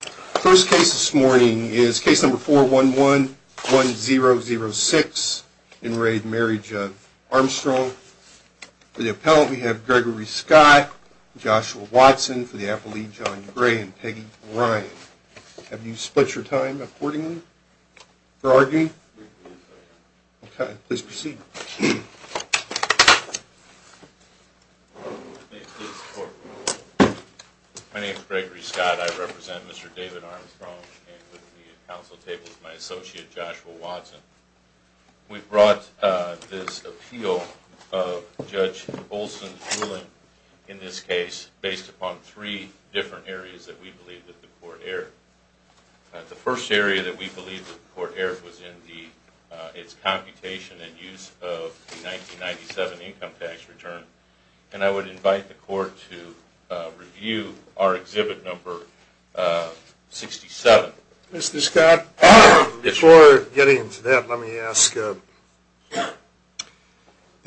First case this morning is case number 4111006 in Raid Marriage of Armstrong. For the appellant we have Gregory Scott, Joshua Watson, for the appellee John Gray, and Peggy Ryan. Have you split your time accordingly for arguing? Okay, please proceed. May it please the court. My name is Gregory Scott. I represent Mr. David Armstrong and with me at council table is my associate Joshua Watson. We brought this appeal of Judge Olson's ruling in this case based upon three different areas that we believe that the court erred. The first area that we believe that the court erred was in its computation and use of the 1997 income tax return. And I would invite the court to review our exhibit number 67. Mr. Scott, before getting into that, let me ask. Did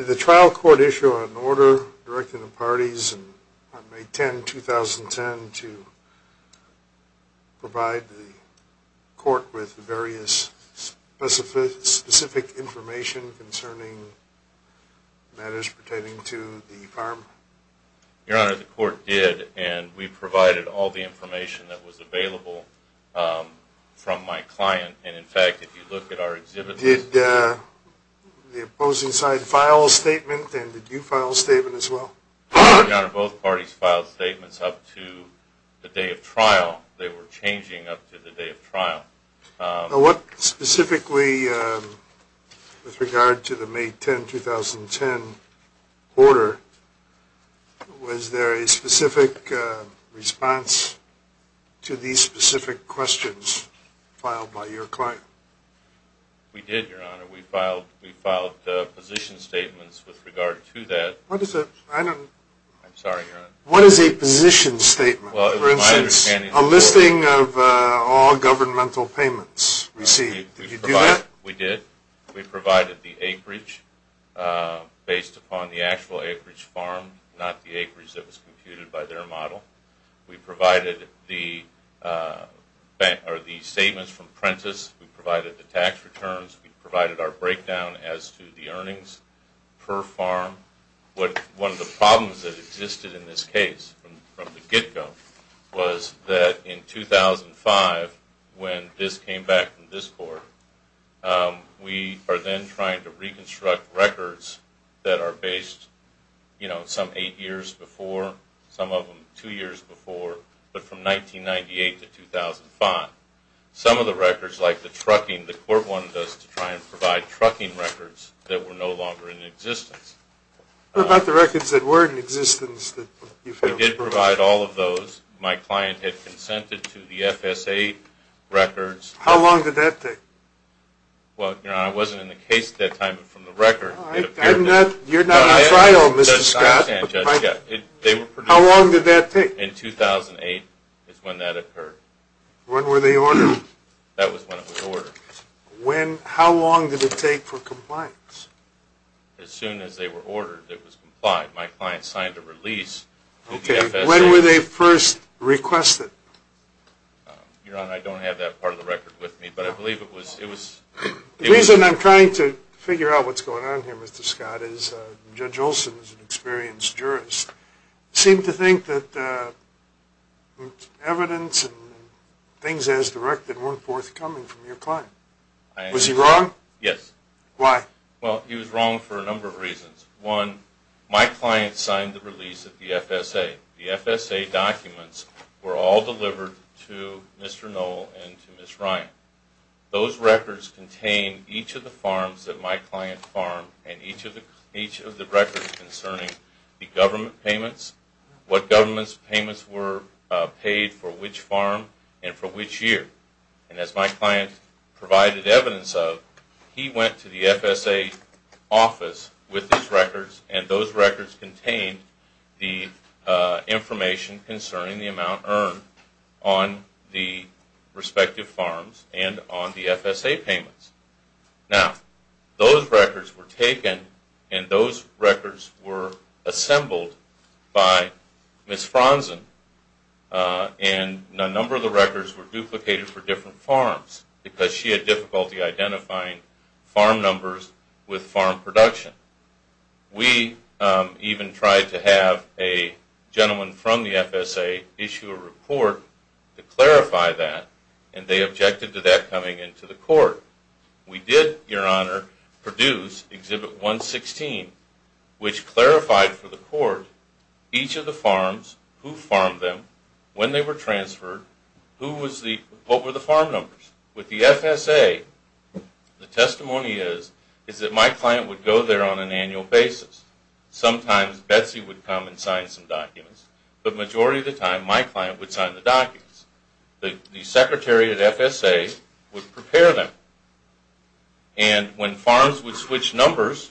the trial court issue an order directing the parties on May 10, 2010 to provide the court with various specific information concerning matters pertaining to the farm? Your Honor, the court did and we provided all the information that was available from my client. Did the opposing side file a statement and did you file a statement as well? Your Honor, both parties filed statements up to the day of trial. They were changing up to the day of trial. What specifically, with regard to the May 10, 2010 order, was there a specific response to these specific questions filed by your client? We did, Your Honor. We filed position statements with regard to that. What is a position statement? A listing of all governmental payments received. Did you do that? We did. We provided the acreage based upon the actual acreage farmed, not the acreage that was computed by their model. We provided the statements from Prentiss. We provided the tax returns. We provided our breakdown as to the earnings per farm. One of the problems that existed in this case from the get-go was that in 2005, when this came back from this court, we are then trying to reconstruct records that are based some eight years before, some of them two years before, but from 1998 to 2005. Some of the records, like the trucking, the court wanted us to try and provide trucking records that were no longer in existence. What about the records that were in existence that you failed to prove? We did provide all of those. My client had consented to the FS-8 records. How long did that take? Well, Your Honor, I wasn't in the case at that time, but from the record. You're not on trial, Mr. Scott. How long did that take? In 2008 is when that occurred. When were they ordered? That was when it was ordered. How long did it take for compliance? As soon as they were ordered, it was complied. My client signed a release with the FS-8. When were they first requested? Your Honor, I don't have that part of the record with me, but I believe it was... The reason I'm trying to figure out what's going on here, Mr. Scott, is Judge Olson is an experienced jurist. He seemed to think that evidence and things as directed weren't forthcoming from your client. Was he wrong? Yes. Why? Well, he was wrong for a number of reasons. One, my client signed the release with the FS-8. The FS-8 documents were all delivered to Mr. Knoll and to Ms. Ryan. Those records contain each of the farms that my client farmed and each of the records concerning the government payments, what government payments were paid for which farm and for which year. And as my client provided evidence of, he went to the FS-8 office with his records and those records contained the information concerning the amount earned on the respective farms and on the FS-8 payments. Now, those records were taken and those records were assembled by Ms. Fronson and a number of the records were duplicated for different farms because she had difficulty identifying farm numbers with farm production. We even tried to have a gentleman from the FS-8 issue a report to clarify that and they objected to that coming into the court. We did, Your Honor, produce Exhibit 116 which clarified for the court each of the farms, who farmed them, when they were transferred, what were the farm numbers. With the FS-8, the testimony is that my client would go there on an annual basis. Sometimes Betsy would come and sign some documents, but the majority of the time my client would sign the documents. The secretary at FS-8 would prepare them. And when farms would switch numbers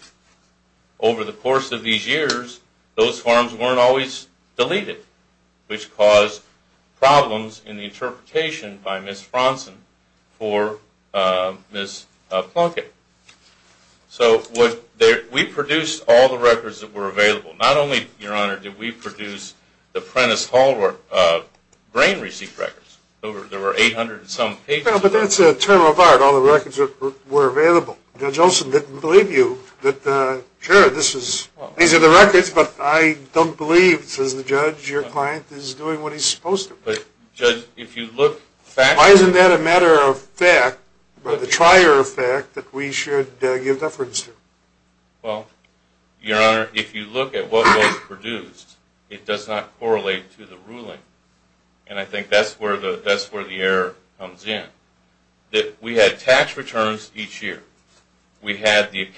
over the course of these years, those farms weren't always deleted, which caused problems in the interpretation by Ms. Fronson for Ms. Plunkett. So we produced all the records that were available. Not only, Your Honor, did we produce the Prentiss Hall grain receipt records. There were 800 and some pages. Well, but that's a turn of art, all the records that were available. Judge Olson didn't believe you that, sure, these are the records, but I don't believe, says the judge, your client is doing what he's supposed to. But, Judge, if you look factually… Why isn't that a matter of fact, the trier of fact, that we should give deference to? Well, Your Honor, if you look at what was produced, it does not correlate to the ruling. And I think that's where the error comes in. We had tax returns each year. We had the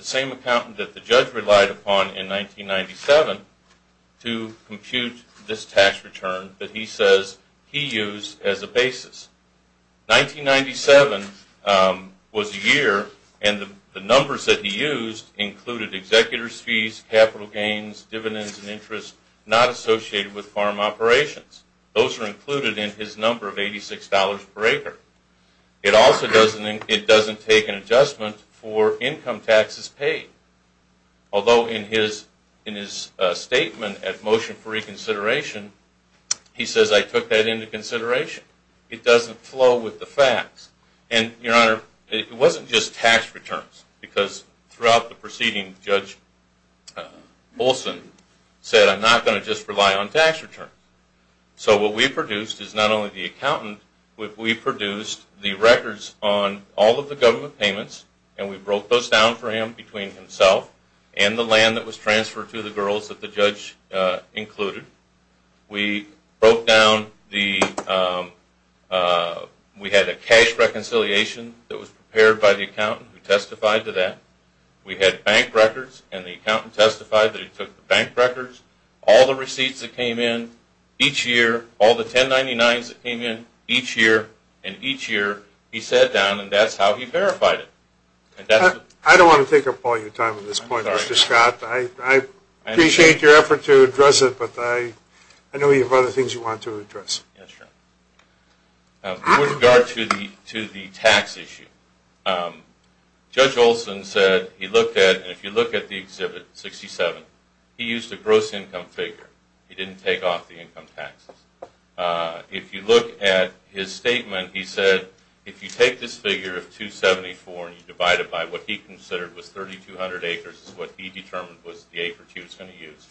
same accountant that the judge relied upon in 1997 to compute this tax return that he says he used as a basis. 1997 was a year and the numbers that he used included executor's fees, capital gains, dividends and interest not associated with farm operations. Those are included in his number of $86 per acre. It also doesn't take an adjustment for income taxes paid. Although in his statement at motion for reconsideration, he says I took that into consideration. It doesn't flow with the facts. And, Your Honor, it wasn't just tax returns because throughout the proceeding, Judge Olson said I'm not going to just rely on tax returns. So what we produced is not only the accountant, we produced the records on all of the government payments and we broke those down for him between himself and the land that was transferred to the girls that the judge included. We broke down the – we had a cash reconciliation that was prepared by the accountant who testified to that. We had bank records and the accountant testified that he took the bank records, all the receipts that came in each year, all the 1099s that came in each year, and each year he sat down and that's how he verified it. I don't want to take up all your time at this point, Mr. Scott. I appreciate your effort to address it, but I know you have other things you want to address. Yes, Your Honor. With regard to the tax issue, Judge Olson said he looked at – and if you look at the exhibit 67, he used a gross income figure. He didn't take off the income taxes. If you look at his statement, he said if you take this figure of 274 and you divide it by what he considered was 3,200 acres is what he determined was the acreage he was going to use.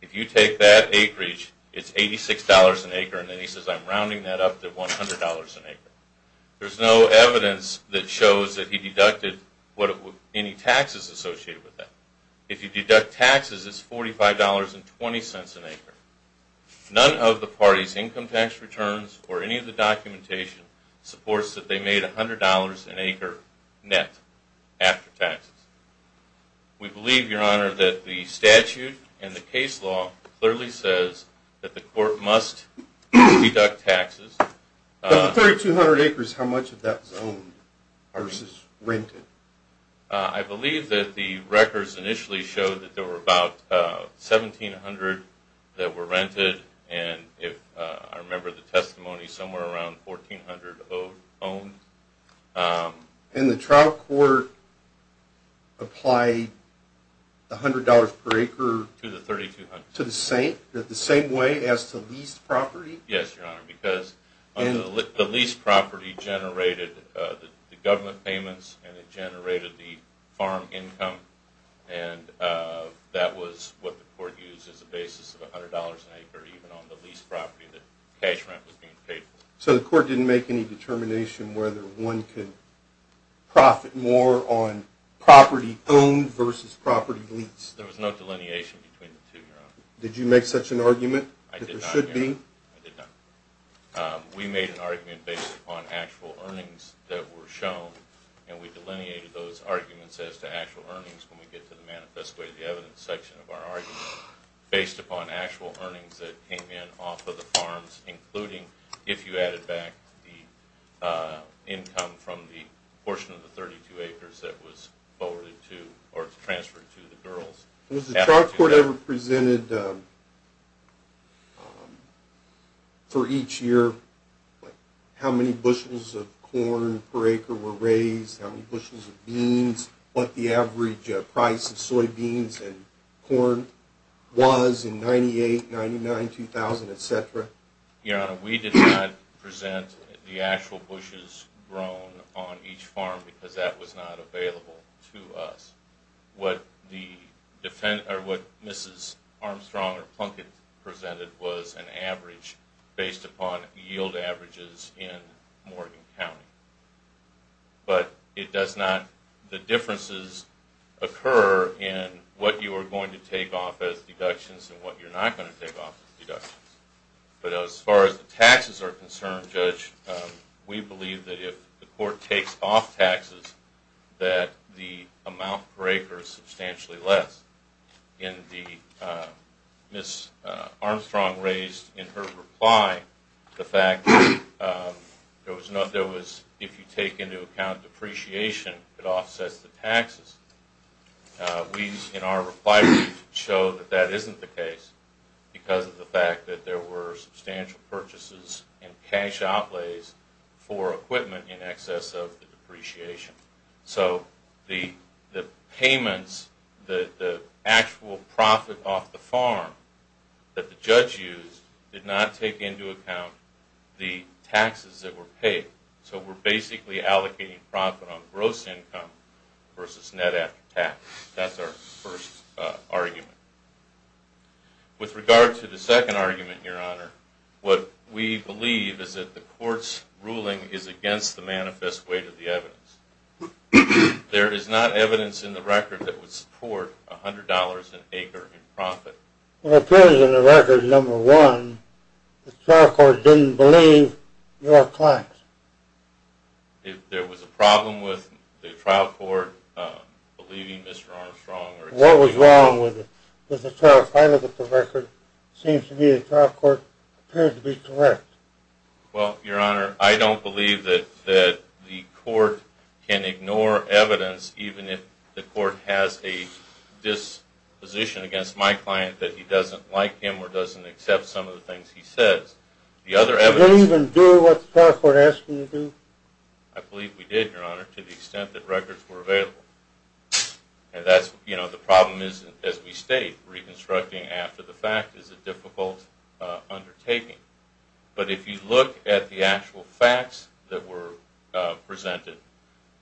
If you take that acreage, it's $86 an acre, and then he says I'm rounding that up to $100 an acre. There's no evidence that shows that he deducted any taxes associated with that. If you deduct taxes, it's $45.20 an acre. None of the parties' income tax returns or any of the documentation supports that they made $100 an acre net after taxes. We believe, Your Honor, that the statute and the case law clearly says that the court must deduct taxes. Of the 3,200 acres, how much of that was owned versus rented? I believe that the records initially showed that there were about 1,700 that were rented, and I remember the testimony somewhere around 1,400 owned. And the trial court applied the $100 per acre to the same way as to leased property? Yes, Your Honor, because the leased property generated the government payments and it generated the farm income, and that was what the court used as a basis of $100 an acre even on the leased property that cash rent was being paid for. So the court didn't make any determination whether one could profit more on property owned versus property leased? There was no delineation between the two, Your Honor. Did you make such an argument that there should be? I did not, Your Honor. I did not. We made an argument based upon actual earnings that were shown, and we delineated those arguments as to actual earnings when we get to the manifest way of the evidence section of our argument based upon actual earnings that came in off of the farms, including if you added back the income from the portion of the 32 acres that was forwarded to or transferred to the girls. Was the trial court ever presented for each year how many bushels of corn per acre were raised, how many bushels of beans, what the average price of soybeans and corn was in 1998, 1999, 2000, etc.? Your Honor, we did not present the actual bushes grown on each farm because that was not available to us. What Mrs. Armstrong or Plunkett presented was an average based upon yield averages in Morgan County. But the differences occur in what you are going to take off as deductions and what you're not going to take off as deductions. But as far as the taxes are concerned, Judge, we believe that if the court takes off taxes, that the amount per acre is substantially less. Mrs. Armstrong raised in her reply the fact that if you take into account depreciation, it offsets the taxes. We, in our reply, show that that isn't the case because of the fact that there were substantial purchases and cash outlays for equipment in excess of the depreciation. So the payments, the actual profit off the farm that the judge used, did not take into account the taxes that were paid. So we're basically allocating profit on gross income versus net after tax. That's our first argument. With regard to the second argument, Your Honor, what we believe is that the court's ruling is against the manifest weight of the evidence. There is not evidence in the record that would support $100 an acre in profit. It appears in the record, number one, the trial court didn't believe your claims. There was a problem with the trial court believing Mr. Armstrong. What was wrong with it? With the trial, if I look at the record, it seems to me the trial court appeared to be correct. Well, Your Honor, I don't believe that the court can ignore evidence even if the court has a disposition against my client that he doesn't like him or doesn't accept some of the things he says. Did you even do what the trial court asked you to do? I believe we did, Your Honor, to the extent that records were available. The problem is, as we state, reconstructing after the fact is a difficult undertaking. But if you look at the actual facts that were presented,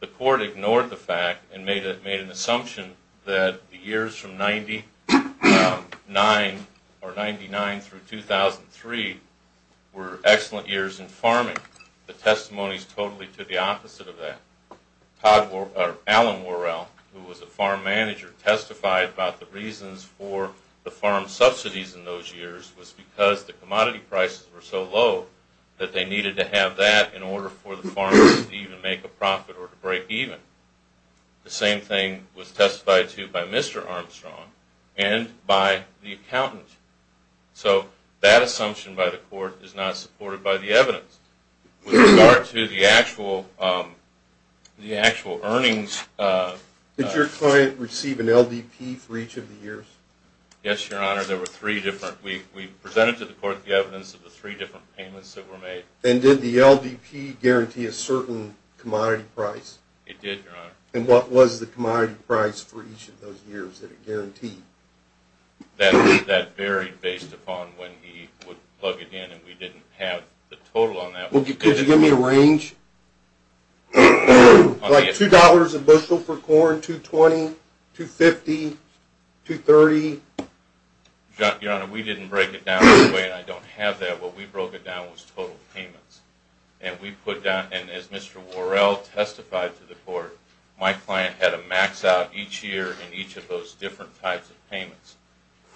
the court ignored the fact and made an assumption that the years from 99 through 2003 were excellent years in farming. The testimony is totally to the opposite of that. Alan Worrell, who was a farm manager, testified about the reasons for the farm subsidies in those years was because the commodity prices were so low that they needed to have that in order for the farmers to even make a profit or to break even. The same thing was testified to by Mr. Armstrong and by the accountant. So that assumption by the court is not supported by the evidence. With regard to the actual earnings... Did your client receive an LDP for each of the years? Yes, Your Honor. We presented to the court the evidence of the three different payments that were made. And did the LDP guarantee a certain commodity price? It did, Your Honor. And what was the commodity price for each of those years that it guaranteed? That varied based upon when he would plug it in, and we didn't have the total on that. Could you give me a range? Like $2 a bushel for corn, $2.20, $2.50, $2.30? Your Honor, we didn't break it down that way, and I don't have that. What we broke it down was total payments. And as Mr. Worrell testified to the court, my client had a max out each year in each of those different types of payments.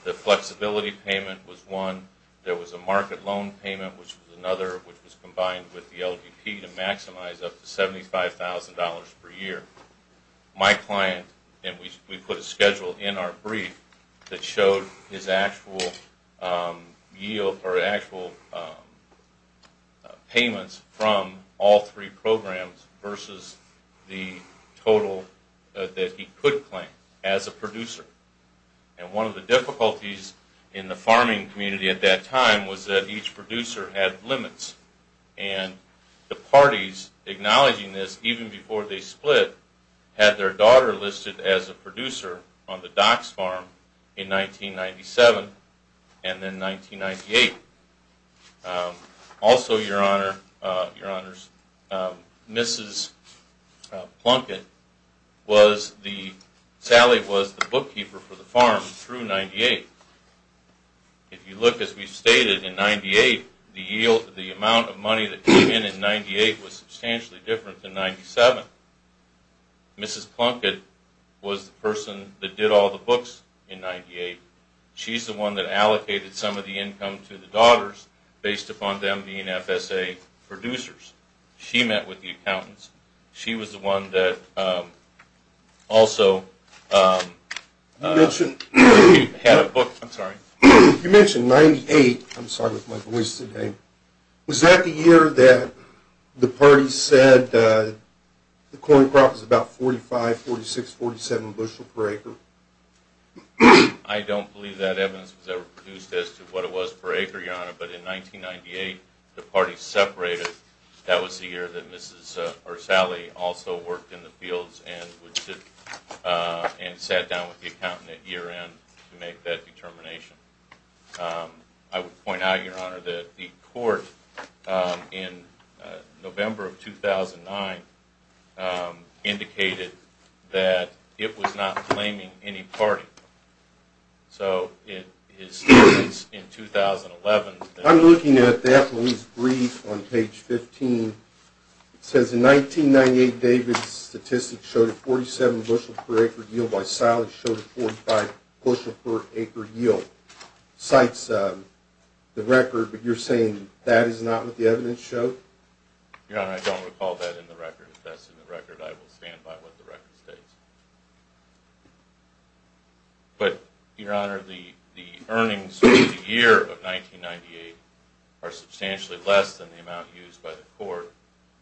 The flexibility payment was one. There was a market loan payment, which was another, which was combined with the LDP to maximize up to $75,000 per year. My client, and we put a schedule in our brief that showed his actual payments from all three programs versus the total that he could claim as a producer. And one of the difficulties in the farming community at that time was that each producer had limits. And the parties acknowledging this, even before they split, had their daughter listed as a producer on the Dock's Farm in 1997 and then 1998. Also, Your Honor, Mrs. Plunkett was the bookkeeper for the farm through 1998. If you look, as we've stated, in 1998, the amount of money that came in in 1998 was substantially different than 1997. Mrs. Plunkett was the person that did all the books in 1998. She's the one that allocated some of the income to the daughters based upon them being FSA producers. She met with the accountants. She was the one that also had a book. I'm sorry. You mentioned 1998. I'm sorry with my voice today. Was that the year that the parties said the corn crop was about 45, 46, 47 bushel per acre? I don't believe that evidence was ever produced as to what it was per acre, Your Honor. But in 1998, the parties separated. That was the year that Sally also worked in the fields and sat down with the accountant at year end to make that determination. I would point out, Your Honor, that the court in November of 2009 indicated that it was not claiming any party. So it is in 2011. I'm looking at that brief on page 15. It says, in 1998, David's statistics showed a 47 bushel per acre yield while Sally's showed a 45 bushel per acre yield. Cites the record, but you're saying that is not what the evidence showed? Your Honor, I don't recall that in the record. If that's in the record, I will stand by what the record states. But, Your Honor, the earnings for the year of 1998 are substantially less than the amount used by the court.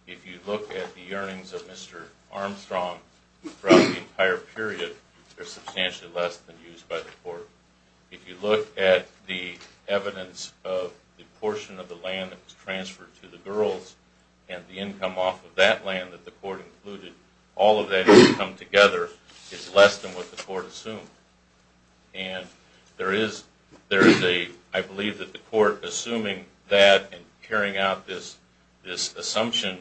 If you look at the earnings of Mr. Armstrong throughout the entire period, they're substantially less than used by the court. If you look at the evidence of the portion of the land that was transferred to the girls and the income off of that land that the court included, all of that income together is less than what the court assumed. And I believe that the court assuming that and carrying out this assumption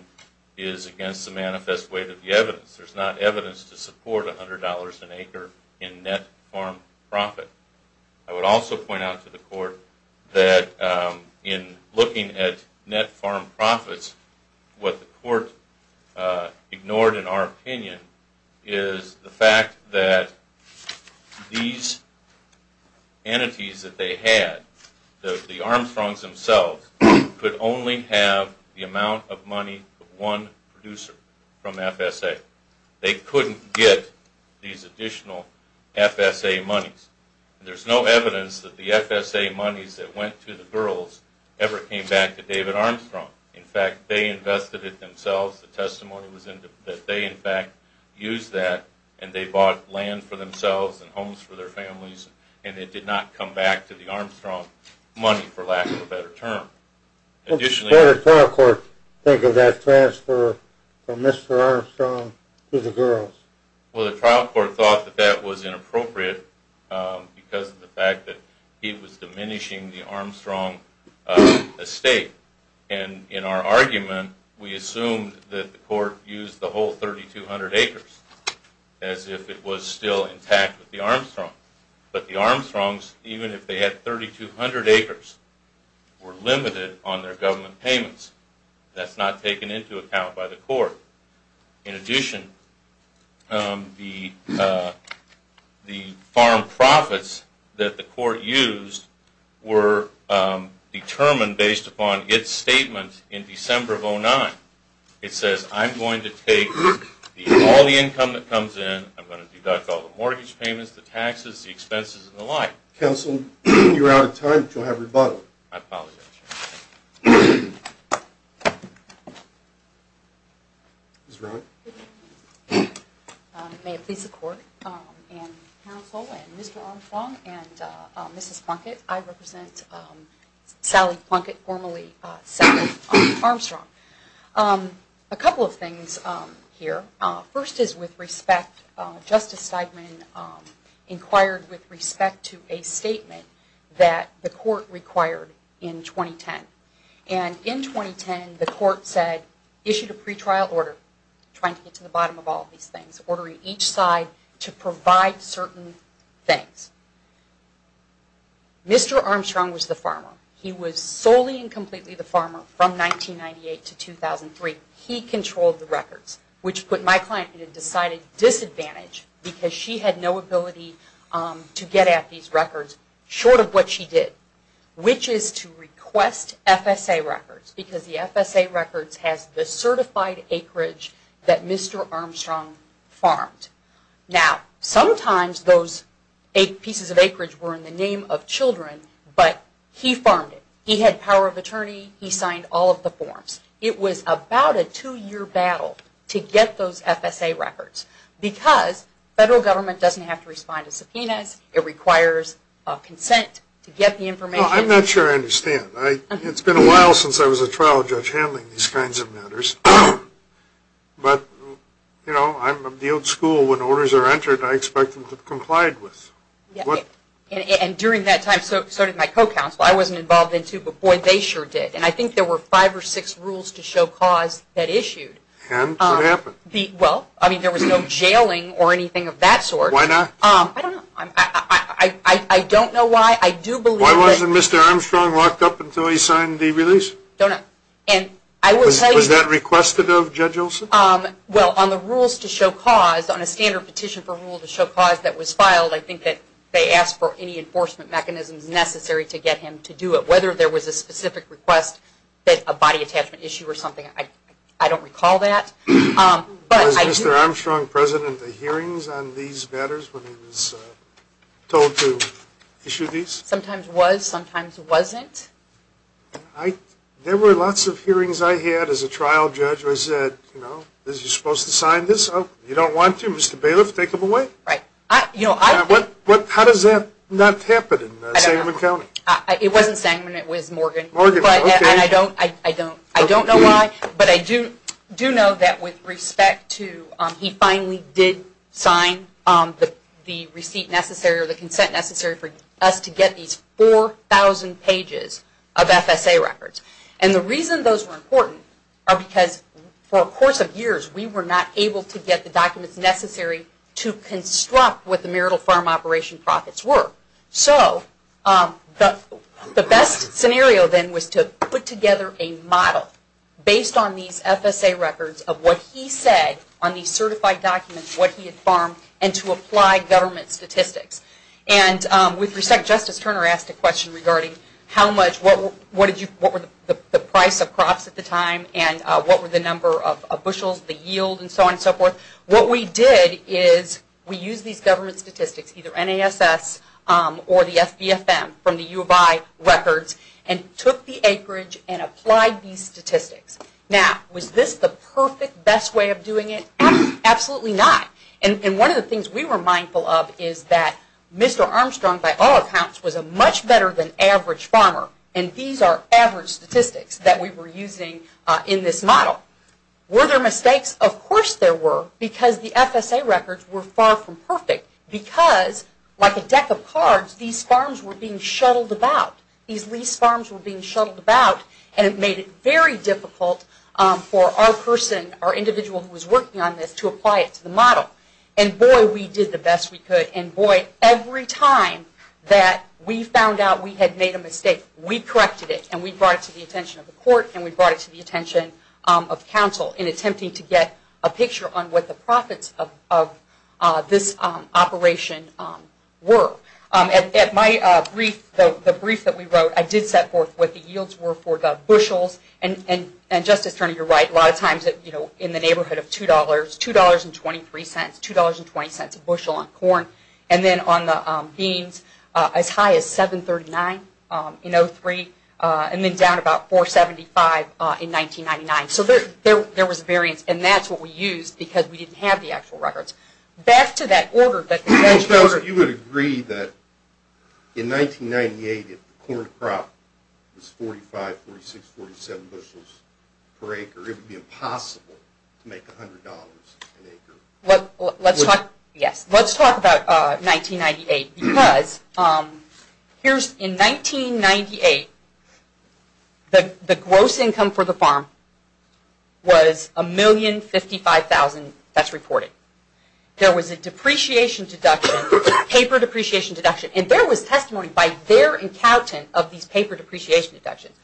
is against the manifest weight of the evidence. There's not evidence to support $100 an acre in net farm profit. I would also point out to the court that in looking at net farm profits, what the court ignored in our opinion is the fact that these entities that they had, the Armstrongs themselves, could only have the amount of money of one producer from FSA. They couldn't get these additional FSA monies. There's no evidence that the FSA monies that went to the girls ever came back to David Armstrong. In fact, they invested it themselves. The testimony was that they, in fact, used that and they bought land for themselves and homes for their families and it did not come back to the Armstrong money, for lack of a better term. What did the trial court think of that transfer from Mr. Armstrong to the girls? Well, the trial court thought that that was inappropriate because of the fact that he was diminishing the Armstrong estate. And in our argument, we assumed that the court used the whole 3,200 acres But the Armstrongs, even if they had 3,200 acres, were limited on their government payments. That's not taken into account by the court. In addition, the farm profits that the court used were determined based upon its statement in December of 2009. It says, I'm going to take all the income that comes in, I'm going to deduct all the mortgage payments, the taxes, the expenses, and the like. Counsel, you're out of time, but you'll have rebuttal. I apologize, Your Honor. May it please the court and counsel and Mr. Armstrong and Mrs. Plunkett, I represent Sally Plunkett, formerly Sally Armstrong. A couple of things here. First is with respect, Justice Steidman inquired with respect to a statement that the court required in 2010. And in 2010, the court said, issued a pretrial order, trying to get to the bottom of all these things, ordering each side to provide certain things. Mr. Armstrong was the farmer. He was solely and completely the farmer from 1998 to 2003. He controlled the records, which put my client at a decided disadvantage because she had no ability to get at these records short of what she did, which is to request FSA records, because the FSA records has the certified acreage that Mr. Armstrong farmed. Now, sometimes those pieces of acreage were in the name of children, but he farmed it. He had power of attorney. He signed all of the forms. It was about a two-year battle to get those FSA records, because federal government doesn't have to respond to subpoenas. It requires consent to get the information. I'm not sure I understand. It's been a while since I was a trial judge handling these kinds of matters. But, you know, I'm the old school. When orders are entered, I expect them to comply with. And during that time, so did my co-counsel. I wasn't involved then, too, but, boy, they sure did. And I think there were five or six rules to show cause that issued. And what happened? Well, I mean, there was no jailing or anything of that sort. Why not? I don't know. I don't know why. I do believe that. Why wasn't Mr. Armstrong locked up until he signed the release? Don't know. Was that requested of Judge Olson? Well, on the rules to show cause, on a standard petition for rule to show cause that was filed, I think that they asked for any enforcement mechanisms necessary to get him to do it. Whether there was a specific request, a body attachment issue or something, I don't recall that. Was Mr. Armstrong present at the hearings on these matters when he was told to issue these? Sometimes was. Sometimes wasn't. There were lots of hearings I had as a trial judge where I said, you know, Why don't you, Mr. Bailiff, take him away? Right. How does that not happen in Sangamon County? It wasn't Sangamon. It was Morgan. Morgan. Okay. And I don't know why, but I do know that with respect to he finally did sign the receipt necessary or the consent necessary for us to get these 4,000 pages of FSA records. And the reason those were important are because for a course of years we were not able to get the documents necessary to construct what the marital farm operation profits were. So the best scenario then was to put together a model based on these FSA records of what he said on these certified documents, what he had farmed, and to apply government statistics. And with respect, Justice Turner asked a question regarding how much, what were the price of crops at the time and what were the number of bushels, the yield, and so on and so forth. What we did is we used these government statistics, either NASS or the SBFM from the U of I records, and took the acreage and applied these statistics. Now, was this the perfect, best way of doing it? Absolutely not. And one of the things we were mindful of is that Mr. Armstrong, by all accounts, was a much better than average farmer, and these are average statistics that we were using in this model. Were there mistakes? Of course there were, because the FSA records were far from perfect, because like a deck of cards, these farms were being shuttled about. These lease farms were being shuttled about, and it made it very difficult for our person, our individual who was working on this, to apply it to the model. And boy, we did the best we could. And boy, every time that we found out we had made a mistake, we corrected it, and we brought it to the attention of the court, and we brought it to the attention of counsel in attempting to get a picture on what the profits of this operation were. At my brief, the brief that we wrote, I did set forth what the yields were for the bushels, and Justice Turner, you're right, a lot of times in the neighborhood of $2, $2.23, $2.20 a bushel on corn, and then on the beans as high as $7.39 in 0-3, and then down about $4.75 in 1999. So there was a variance, and that's what we used, because we didn't have the actual records. Back to that order that you mentioned earlier. You would agree that in 1998 if the corn crop was 45, 46, 47 bushels per acre, it would be impossible to make $100 an acre. Let's talk about 1998, because in 1998 the gross income for the farm was $1,055,000, that's reported. There was a depreciation deduction, paper depreciation deduction, and there was testimony by their accountant of these paper depreciation deductions.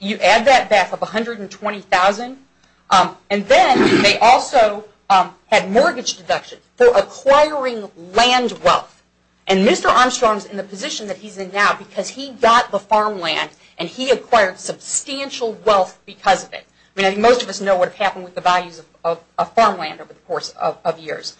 You add that back up to $120,000, and then they also had mortgage deductions for acquiring land wealth. And Mr. Armstrong is in the position that he's in now because he got the farmland and he acquired substantial wealth because of it. I mean, I think most of us know what happened with the values of farmland over the course of years.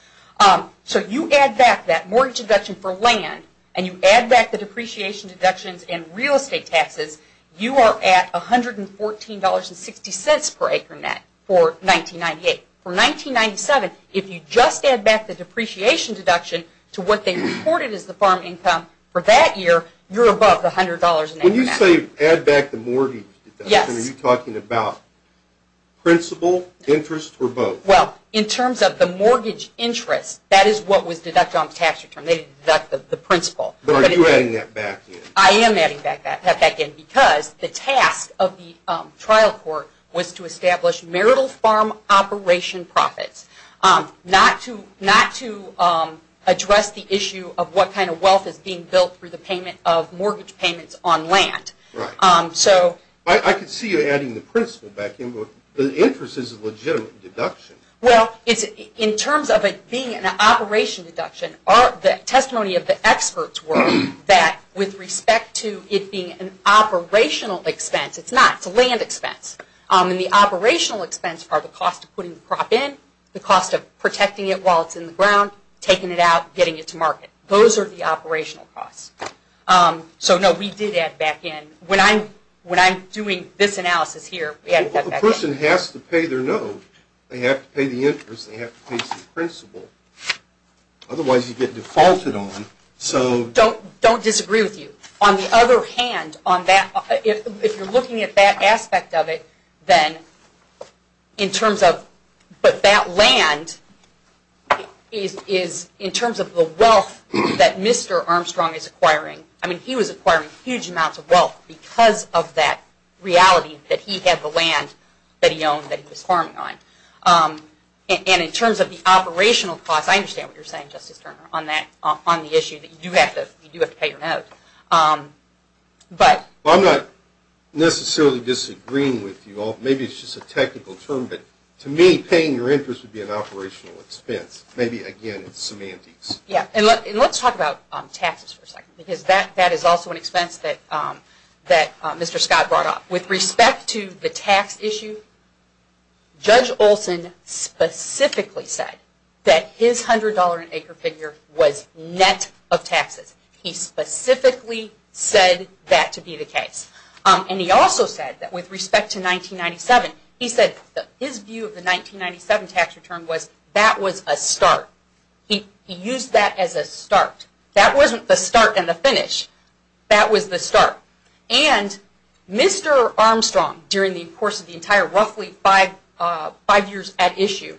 So you add back that mortgage deduction for land, and you add back the depreciation deductions and real estate taxes, you are at $114.60 per acre net for 1998. For 1997, if you just add back the depreciation deduction to what they reported as the farm income for that year, you're above the $100 an acre net. When you say add back the mortgage deduction, are you talking about principal, interest, or both? Well, in terms of the mortgage interest, that is what was deducted on the tax return. They deducted the principal. But are you adding that back in? I am adding that back in because the task of the trial court was to establish marital farm operation profits, not to address the issue of what kind of wealth is being built through the payment of mortgage payments on land. I can see you adding the principal back in, but the interest is a legitimate deduction. Well, in terms of it being an operation deduction, the testimony of the experts were that with respect to it being an operational expense, it's not. It's a land expense. And the operational expense are the cost of putting the crop in, the cost of protecting it while it's in the ground, taking it out, getting it to market. Those are the operational costs. So, no, we did add back in. When I'm doing this analysis here, we add that back in. Well, the person has to pay their note. They have to pay the interest. They have to pay some principal. Otherwise, you get defaulted on. So don't disagree with you. On the other hand, if you're looking at that aspect of it, then in terms of but that land is in terms of the wealth that Mr. Armstrong is acquiring. I mean, he was acquiring huge amounts of wealth because of that reality that he had the land that he owned that he was farming on. And in terms of the operational cost, I understand what you're saying, Justice Turner, on the issue that you do have to pay your note. Well, I'm not necessarily disagreeing with you all. Maybe it's just a technical term, but to me, paying your interest would be an operational expense. Maybe, again, it's semantics. And let's talk about taxes for a second because that is also an expense that Mr. Scott brought up. With respect to the tax issue, Judge Olson specifically said that his $100 an acre figure was net of taxes. He specifically said that to be the case. And he also said that with respect to 1997, he said that his view of the 1997 tax return was that was a start. He used that as a start. That wasn't the start and the finish. That was the start. And Mr. Armstrong, during the course of the entire roughly five years at issue,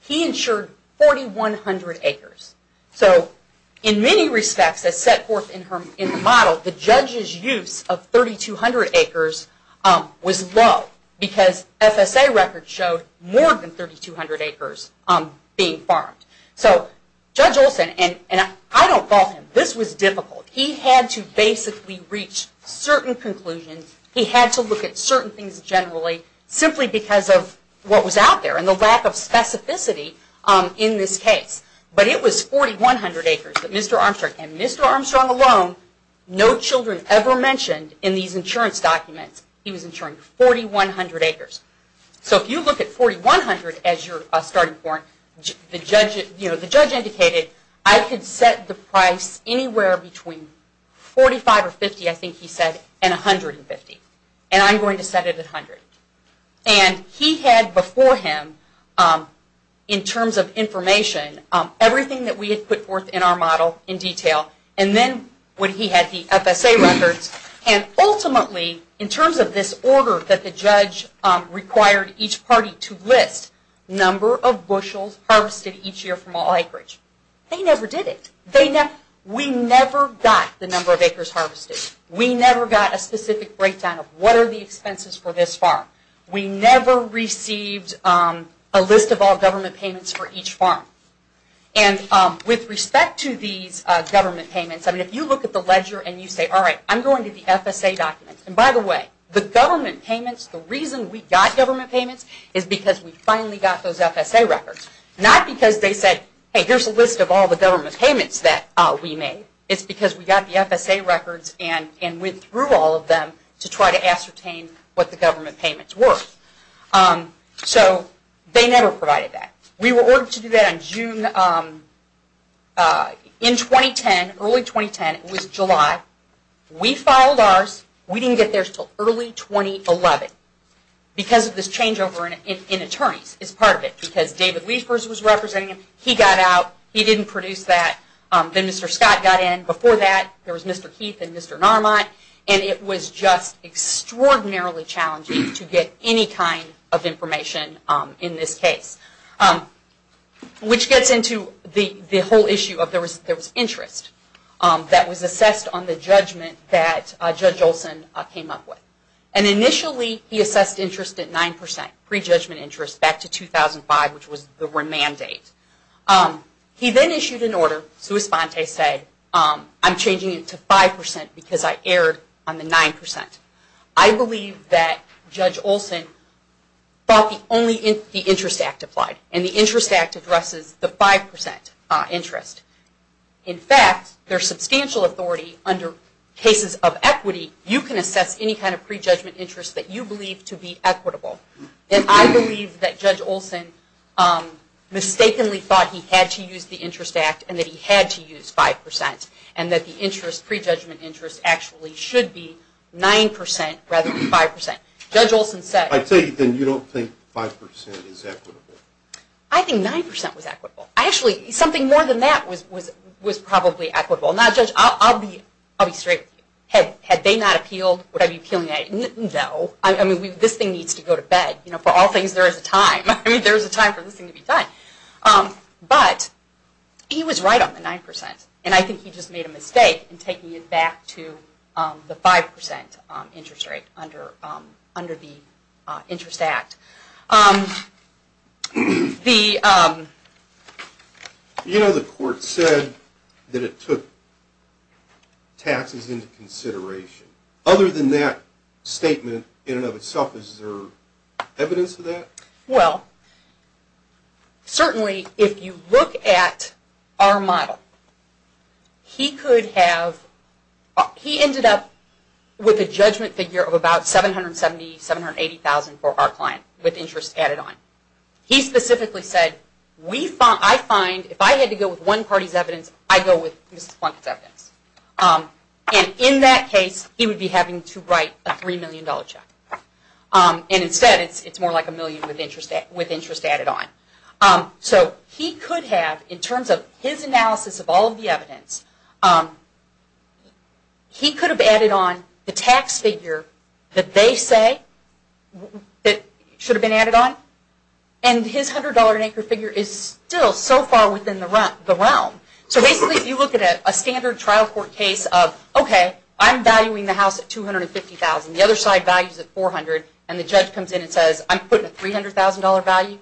he insured 4,100 acres. So in many respects, as set forth in the model, the judge's use of 3,200 acres was low because FSA records showed more than 3,200 acres being farmed. So Judge Olson, and I don't fault him, this was difficult. He had to basically reach certain conclusions. He had to look at certain things generally simply because of what was out there and the lack of specificity in this case. But it was 4,100 acres that Mr. Armstrong, and Mr. Armstrong alone no children ever mentioned in these insurance documents he was insuring 4,100 acres. So if you look at 4,100 as your starting point, the judge indicated I could set the price anywhere between 45 or 50, I think he said, and 150. And I'm going to set it at 100. And he had before him, in terms of information, everything that we had put forth in our model in detail. And then he had the FSA records. And ultimately, in terms of this order that the judge required each party to harvest each year from all acreage, they never did it. We never got the number of acres harvested. We never got a specific breakdown of what are the expenses for this farm. We never received a list of all government payments for each farm. And with respect to these government payments, I mean if you look at the ledger and you say, all right, I'm going to the FSA documents. And by the way, the government payments, the reason we got government payments is because we finally got those FSA records, not because they said, hey, here's a list of all the government payments that we made. It's because we got the FSA records and went through all of them to try to ascertain what the government payments were. So they never provided that. We were ordered to do that in June. In 2010, early 2010, it was July. We filed ours. We didn't get theirs until early 2011 because of this changeover in government because David Liefers was representing him. He got out. He didn't produce that. Then Mr. Scott got in. Before that, there was Mr. Keith and Mr. Narmont. And it was just extraordinarily challenging to get any kind of information in this case, which gets into the whole issue of there was interest that was assessed on the judgment that Judge Olson came up with. And initially, he assessed interest at 9%, pre-judgment interest, back to 2005, which was the remand date. He then issued an order. Suis Ponte said, I'm changing it to 5% because I erred on the 9%. I believe that Judge Olson thought the interest act applied. And the interest act addresses the 5% interest. In fact, there's substantial authority under cases of equity. You can assess any kind of pre-judgment interest that you believe to be equitable. And I believe that Judge Olson mistakenly thought he had to use the interest act and that he had to use 5% and that the interest, pre-judgment interest, actually should be 9% rather than 5%. Judge Olson said. I tell you, then you don't think 5% is equitable. I think 9% was equitable. Actually, something more than that was probably equitable. Now, Judge, I'll be straight with you. Had they not appealed, would I be appealing? No. I mean, this thing needs to go to bed. For all things, there is a time. I mean, there is a time for this thing to be done. But he was right on the 9%. And I think he just made a mistake in taking it back to the 5% interest rate under the interest act. You know, the court said that it took taxes into consideration. Other than that statement in and of itself, is there evidence of that? Well, certainly if you look at our model, he could have, he ended up with a judgment figure of about $770,000, $780,000 for our client with interest added on. He specifically said, I find if I had to go with one party's evidence, I go with Mrs. Plunkett's evidence. And in that case, he would be having to write a $3 million check. And instead, it's more like a million with interest added on. So he could have, in terms of his analysis of all of the evidence, he could have added on the tax figure that they say should have been added on, and his $100 an acre figure is still so far within the realm. So basically, if you look at a standard trial court case of, okay, I'm valuing the house at $250,000, the other side values it at $400,000, and the judge comes in and says, I'm putting a $300,000 value,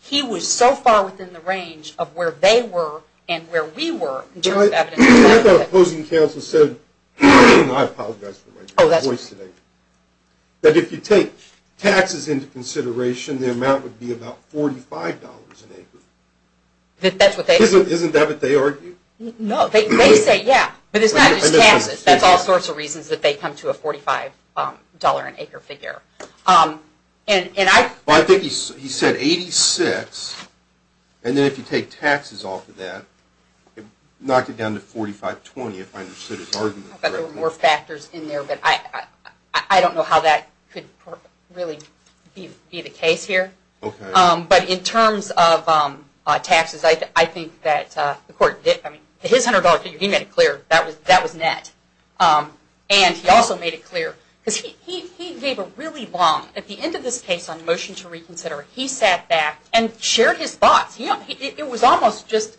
he was so far within the range of where they were and where we were in terms of evidence. I thought opposing counsel said, I apologize for my voice today, that if you take taxes into consideration, the amount would be about $45 an acre. Isn't that what they argue? No, they say, yeah, but it's not just taxes. That's all sorts of reasons that they come to a $45 an acre figure. I think he said $86, and then if you take taxes off of that, knock it down to $45.20 if I understood his argument correctly. I thought there were more factors in there, but I don't know how that could really be the case here. But in terms of taxes, I think that the court, his $100 figure, he made it clear that was net. And he also made it clear, because he gave a really long, at the end of this case on motion to reconsider, he sat back and shared his thoughts. It was almost just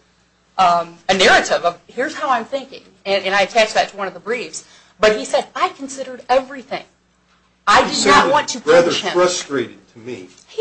a narrative of, here's how I'm thinking, and I attached that to one of the briefs. But he said, I considered everything. I did not want to push him. He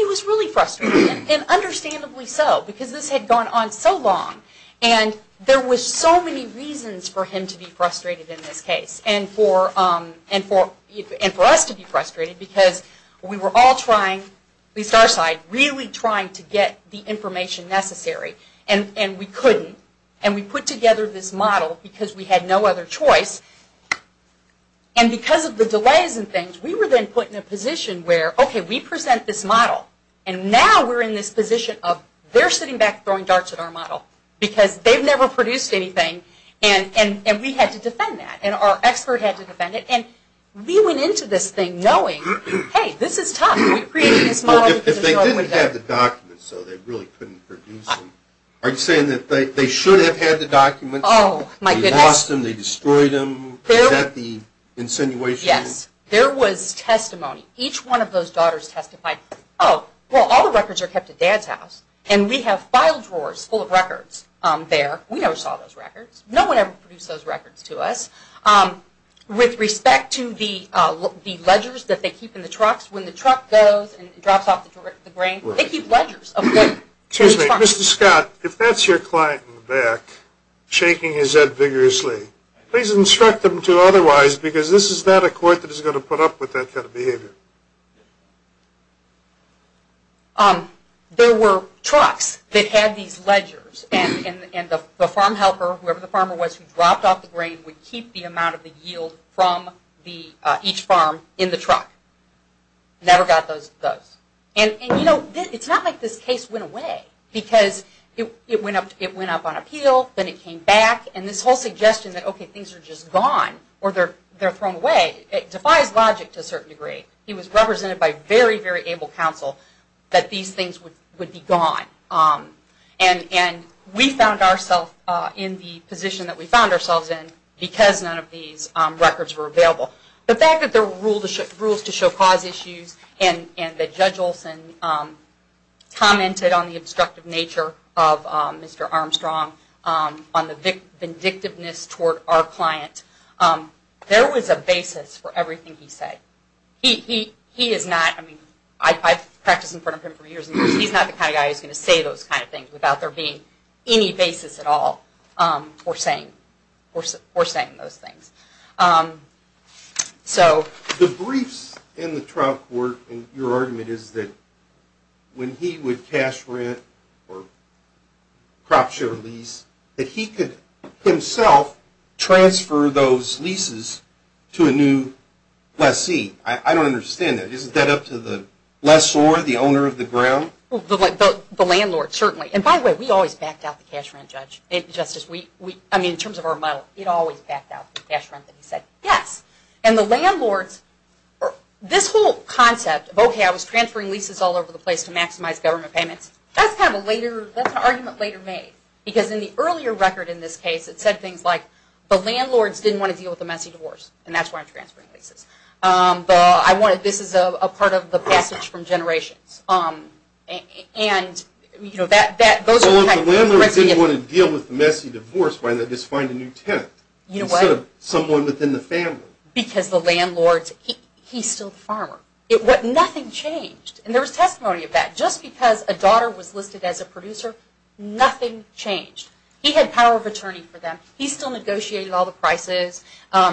was really frustrated, and understandably so, because this had gone on so long. And there were so many reasons for him to be frustrated in this case, and for us to be frustrated, because we were all trying, at least our side, really trying to get the information necessary, and we couldn't. And we put together this model because we had no other choice. And because of the delays and things, we were then put in a position where, okay, we present this model, and now we're in this position of, they're sitting back throwing darts at our model, because they've never produced anything, and we had to defend that. And our expert had to defend it. And we went into this thing knowing, hey, this is tough. We created this model. If they didn't have the documents, so they really couldn't produce them. Are you saying that they should have had the documents? They lost them. They destroyed them. Is that the insinuation? Yes. There was testimony. Each one of those daughters testified, oh, well all the records are kept at Dad's house, and we have file drawers full of records there. We never saw those records. No one ever produced those records to us. With respect to the ledgers that they keep in the trucks, when the truck goes and drops off the drain, they keep ledgers. Excuse me. Mr. Scott, if that's your client in the back shaking his head vigorously, please instruct them to otherwise, because this is not a court that is going to put up with that kind of behavior. There were trucks that had these ledgers, and the farm helper, whoever the farmer was who dropped off the drain, would keep the amount of the yield from each farm in the truck. Never got those. And, you know, it's not like this case went away, because it went up on appeal, then it came back, and this whole suggestion that, okay, things are just gone, or they're thrown away, it defies logic to a certain degree. It was represented by very, very able counsel that these things would be gone. And we found ourselves in the position that we found ourselves in because none of these records were available. The fact that there were rules to show cause issues, and that Judge Olson commented on the obstructive nature of Mr. Armstrong, on the vindictiveness toward our client, there was a basis for everything he said. He is not, I mean, I've practiced in front of him for years, and he's not the kind of guy who's going to say those kind of things without there being any basis at all for saying those things. So... The briefs in the trial court, in your argument, is that when he would cash rent or crop share lease, that he could himself transfer those leases to a new lessee. I don't understand that. Isn't that up to the lessor, the owner of the ground? The landlord, certainly. And by the way, we always backed out the cash rent judge. I mean, in terms of our model, it always backed out the cash rent. And he said, yes. And the landlords, this whole concept, okay, I was transferring leases all over the place to maximize government payments, that's an argument later made. Because in the earlier record in this case, it said things like the landlords didn't want to deal with the messy divorce, and that's why I'm transferring leases. This is a part of the passage from generations. And, you know, that... Well, if the landlord didn't want to deal with the messy divorce, why not just find a new tenant instead of someone within the family? Because the landlord, he's still the farmer. Nothing changed. And there was testimony of that. Just because a daughter was listed as a producer, nothing changed. He had power of attorney for them. He still negotiated all the prices.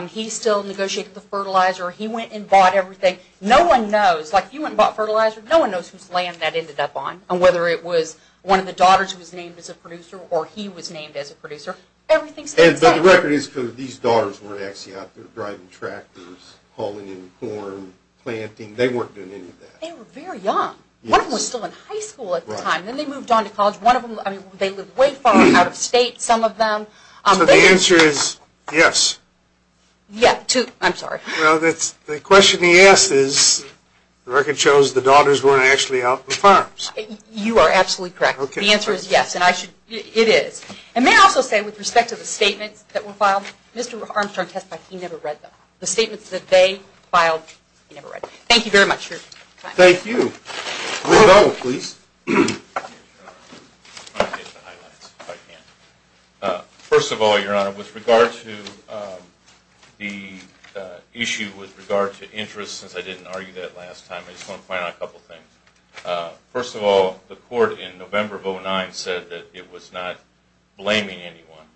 He still negotiated the fertilizer. He went and bought everything. No one knows. Like if you went and bought fertilizer, no one knows whose land that ended up on and whether it was one of the daughters who was named as a producer or he was named as a producer. Everything stayed the same. But the record is these daughters were actually out there driving tractors, hauling in corn, planting. They weren't doing any of that. They were very young. One of them was still in high school at the time. Then they moved on to college. One of them, I mean, they lived way far out of state, some of them. So the answer is yes. Yeah, to... I'm sorry. Well, the question he asked is, the record shows the daughters weren't actually out in the farms. You are absolutely correct. The answer is yes, and I should... it is. And may I also say, with respect to the statements that were filed, Mr. Armstrong testified he never read them. The statements that they filed, he never read. Thank you very much, sir. Thank you. Revell, please. I want to get to the highlights, if I can. First of all, Your Honor, with regard to the issue with regard to interest, since I didn't argue that last time, I just want to point out a couple things. First of all, the court in November of 2009 said that it was not blaming anyone,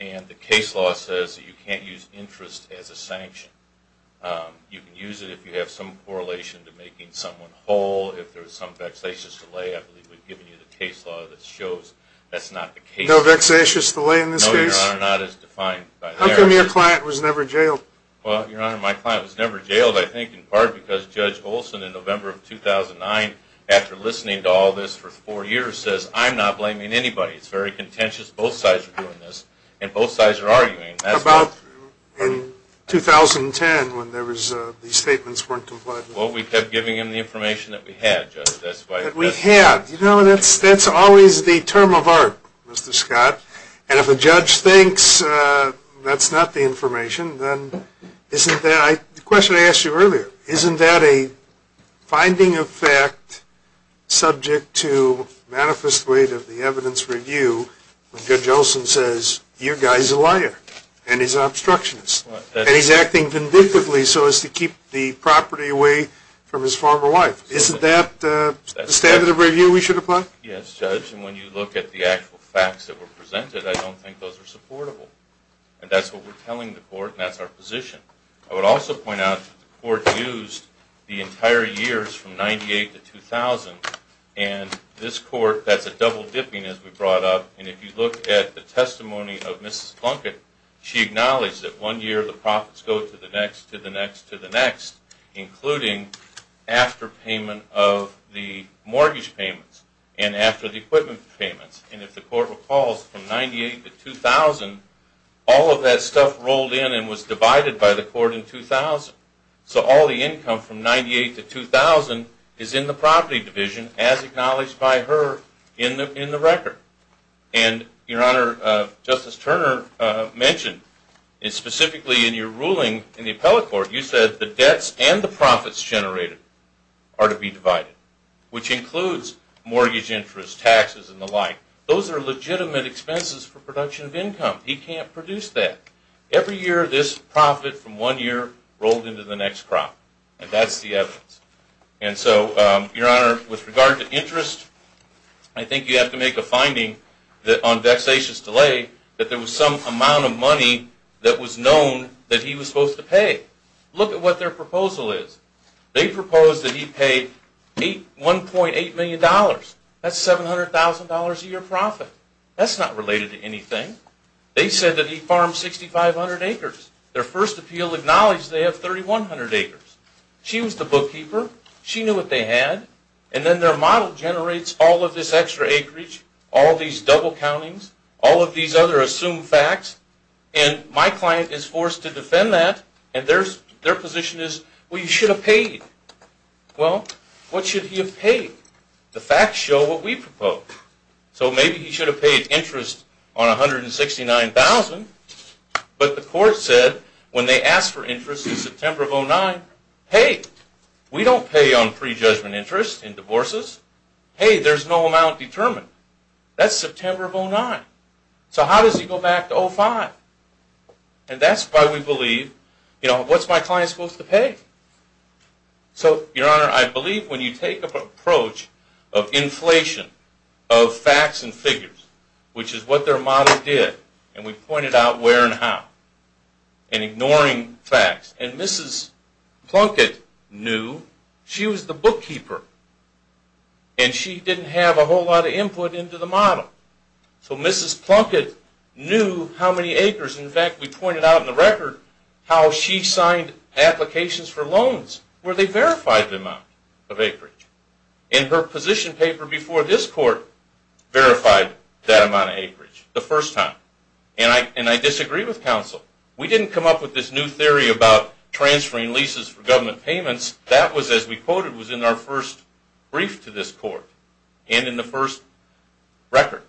and the case law says that you can't use interest as a sanction. You can use it if you have some correlation to making someone whole, if there's some vexatious delay. I believe we've given you the case law that shows that's not the case. No vexatious delay in this case? No, Your Honor, not as defined by there. How come your client was never jailed? Well, Your Honor, my client was never jailed, I think, in part because Judge Olson, in November of 2009, after listening to all this for four years, says, I'm not blaming anybody. It's very contentious. Both sides are doing this, and both sides are arguing. That's not true. About in 2010, when there was... these statements weren't complied with. Well, we kept giving him the information that we had, Judge. That's why... That we had. You know, that's always the term of art, Mr. Scott, and if a judge thinks that's not the information, then isn't that... The question I asked you earlier, isn't that a finding of fact subject to manifest weight of the evidence review when Judge Olson says, you guy's a liar, and he's an obstructionist, and he's acting convictively so as to keep the property away from his former wife. Isn't that the standard of review we should apply? Yes, Judge, and when you look at the actual facts that were presented, I don't think those are supportable, and that's what we're telling the court, and that's our position. I would also point out that the court used the entire years from 1998 to 2000, and this court, that's a double dipping, as we brought up, and if you look at the testimony of Mrs. Plunkett, she acknowledged that one year the profits go to the next, to the next, to the next, including after payment of the mortgage payments, and after the equipment payments. And if the court recalls, from 1998 to 2000, all of that stuff rolled in and was divided by the court in 2000. So all the income from 1998 to 2000 is in the property division, as acknowledged by her in the record. And, Your Honor, Justice Turner mentioned, and specifically in your ruling in the appellate court, you said the debts and the profits generated are to be divided, which includes mortgage interest, taxes, and the like. Those are legitimate expenses for production of income. He can't produce that. Every year this profit from one year rolled into the next crop, and that's the evidence. And so, Your Honor, with regard to interest, I think you have to make a finding on vexatious delay that there was some amount of money that was known that he was supposed to pay. Look at what their proposal is. They proposed that he pay $1.8 million. That's $700,000 a year profit. That's not related to anything. They said that he farmed 6,500 acres. Their first appeal acknowledged they have 3,100 acres. She was the bookkeeper. She knew what they had. And then their model generates all of this extra acreage, all these double countings, all of these other assumed facts, and my client is forced to defend that, and their position is, well, you should have paid. Well, what should he have paid? The facts show what we propose. So maybe he should have paid interest on $169,000, but the court said when they asked for interest in September of 2009, hey, we don't pay on prejudgment interest in divorces. Hey, there's no amount determined. That's September of 2009. So how does he go back to 2005? And that's why we believe, you know, what's my client supposed to pay? So, Your Honor, I believe when you take an approach of inflation of facts and figures, which is what their model did, and we pointed out where and how, and ignoring facts, and Mrs. Plunkett knew she was the bookkeeper, and she didn't have a whole lot of input into the model. So Mrs. Plunkett knew how many acres. In fact, we pointed out in the record how she signed applications for loans where they verified the amount of acreage. And her position paper before this court verified that amount of acreage the first time, and I disagree with counsel. We didn't come up with this new theory about transferring leases for government payments. That was, as we quoted, was in our first brief to this court and in the first record.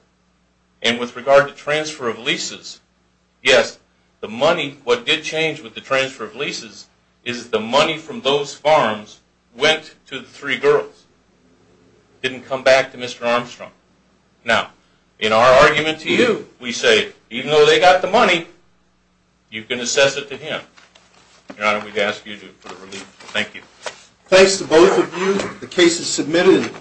And with regard to transfer of leases, yes, the money, what did change with the transfer of leases is the money from those farms went to the three girls. It didn't come back to Mr. Armstrong. Now, in our argument to you, we say even though they got the money, you can assess it to him. Your Honor, we'd ask you to put a relief. Thank you. Thanks to both of you. The case is submitted.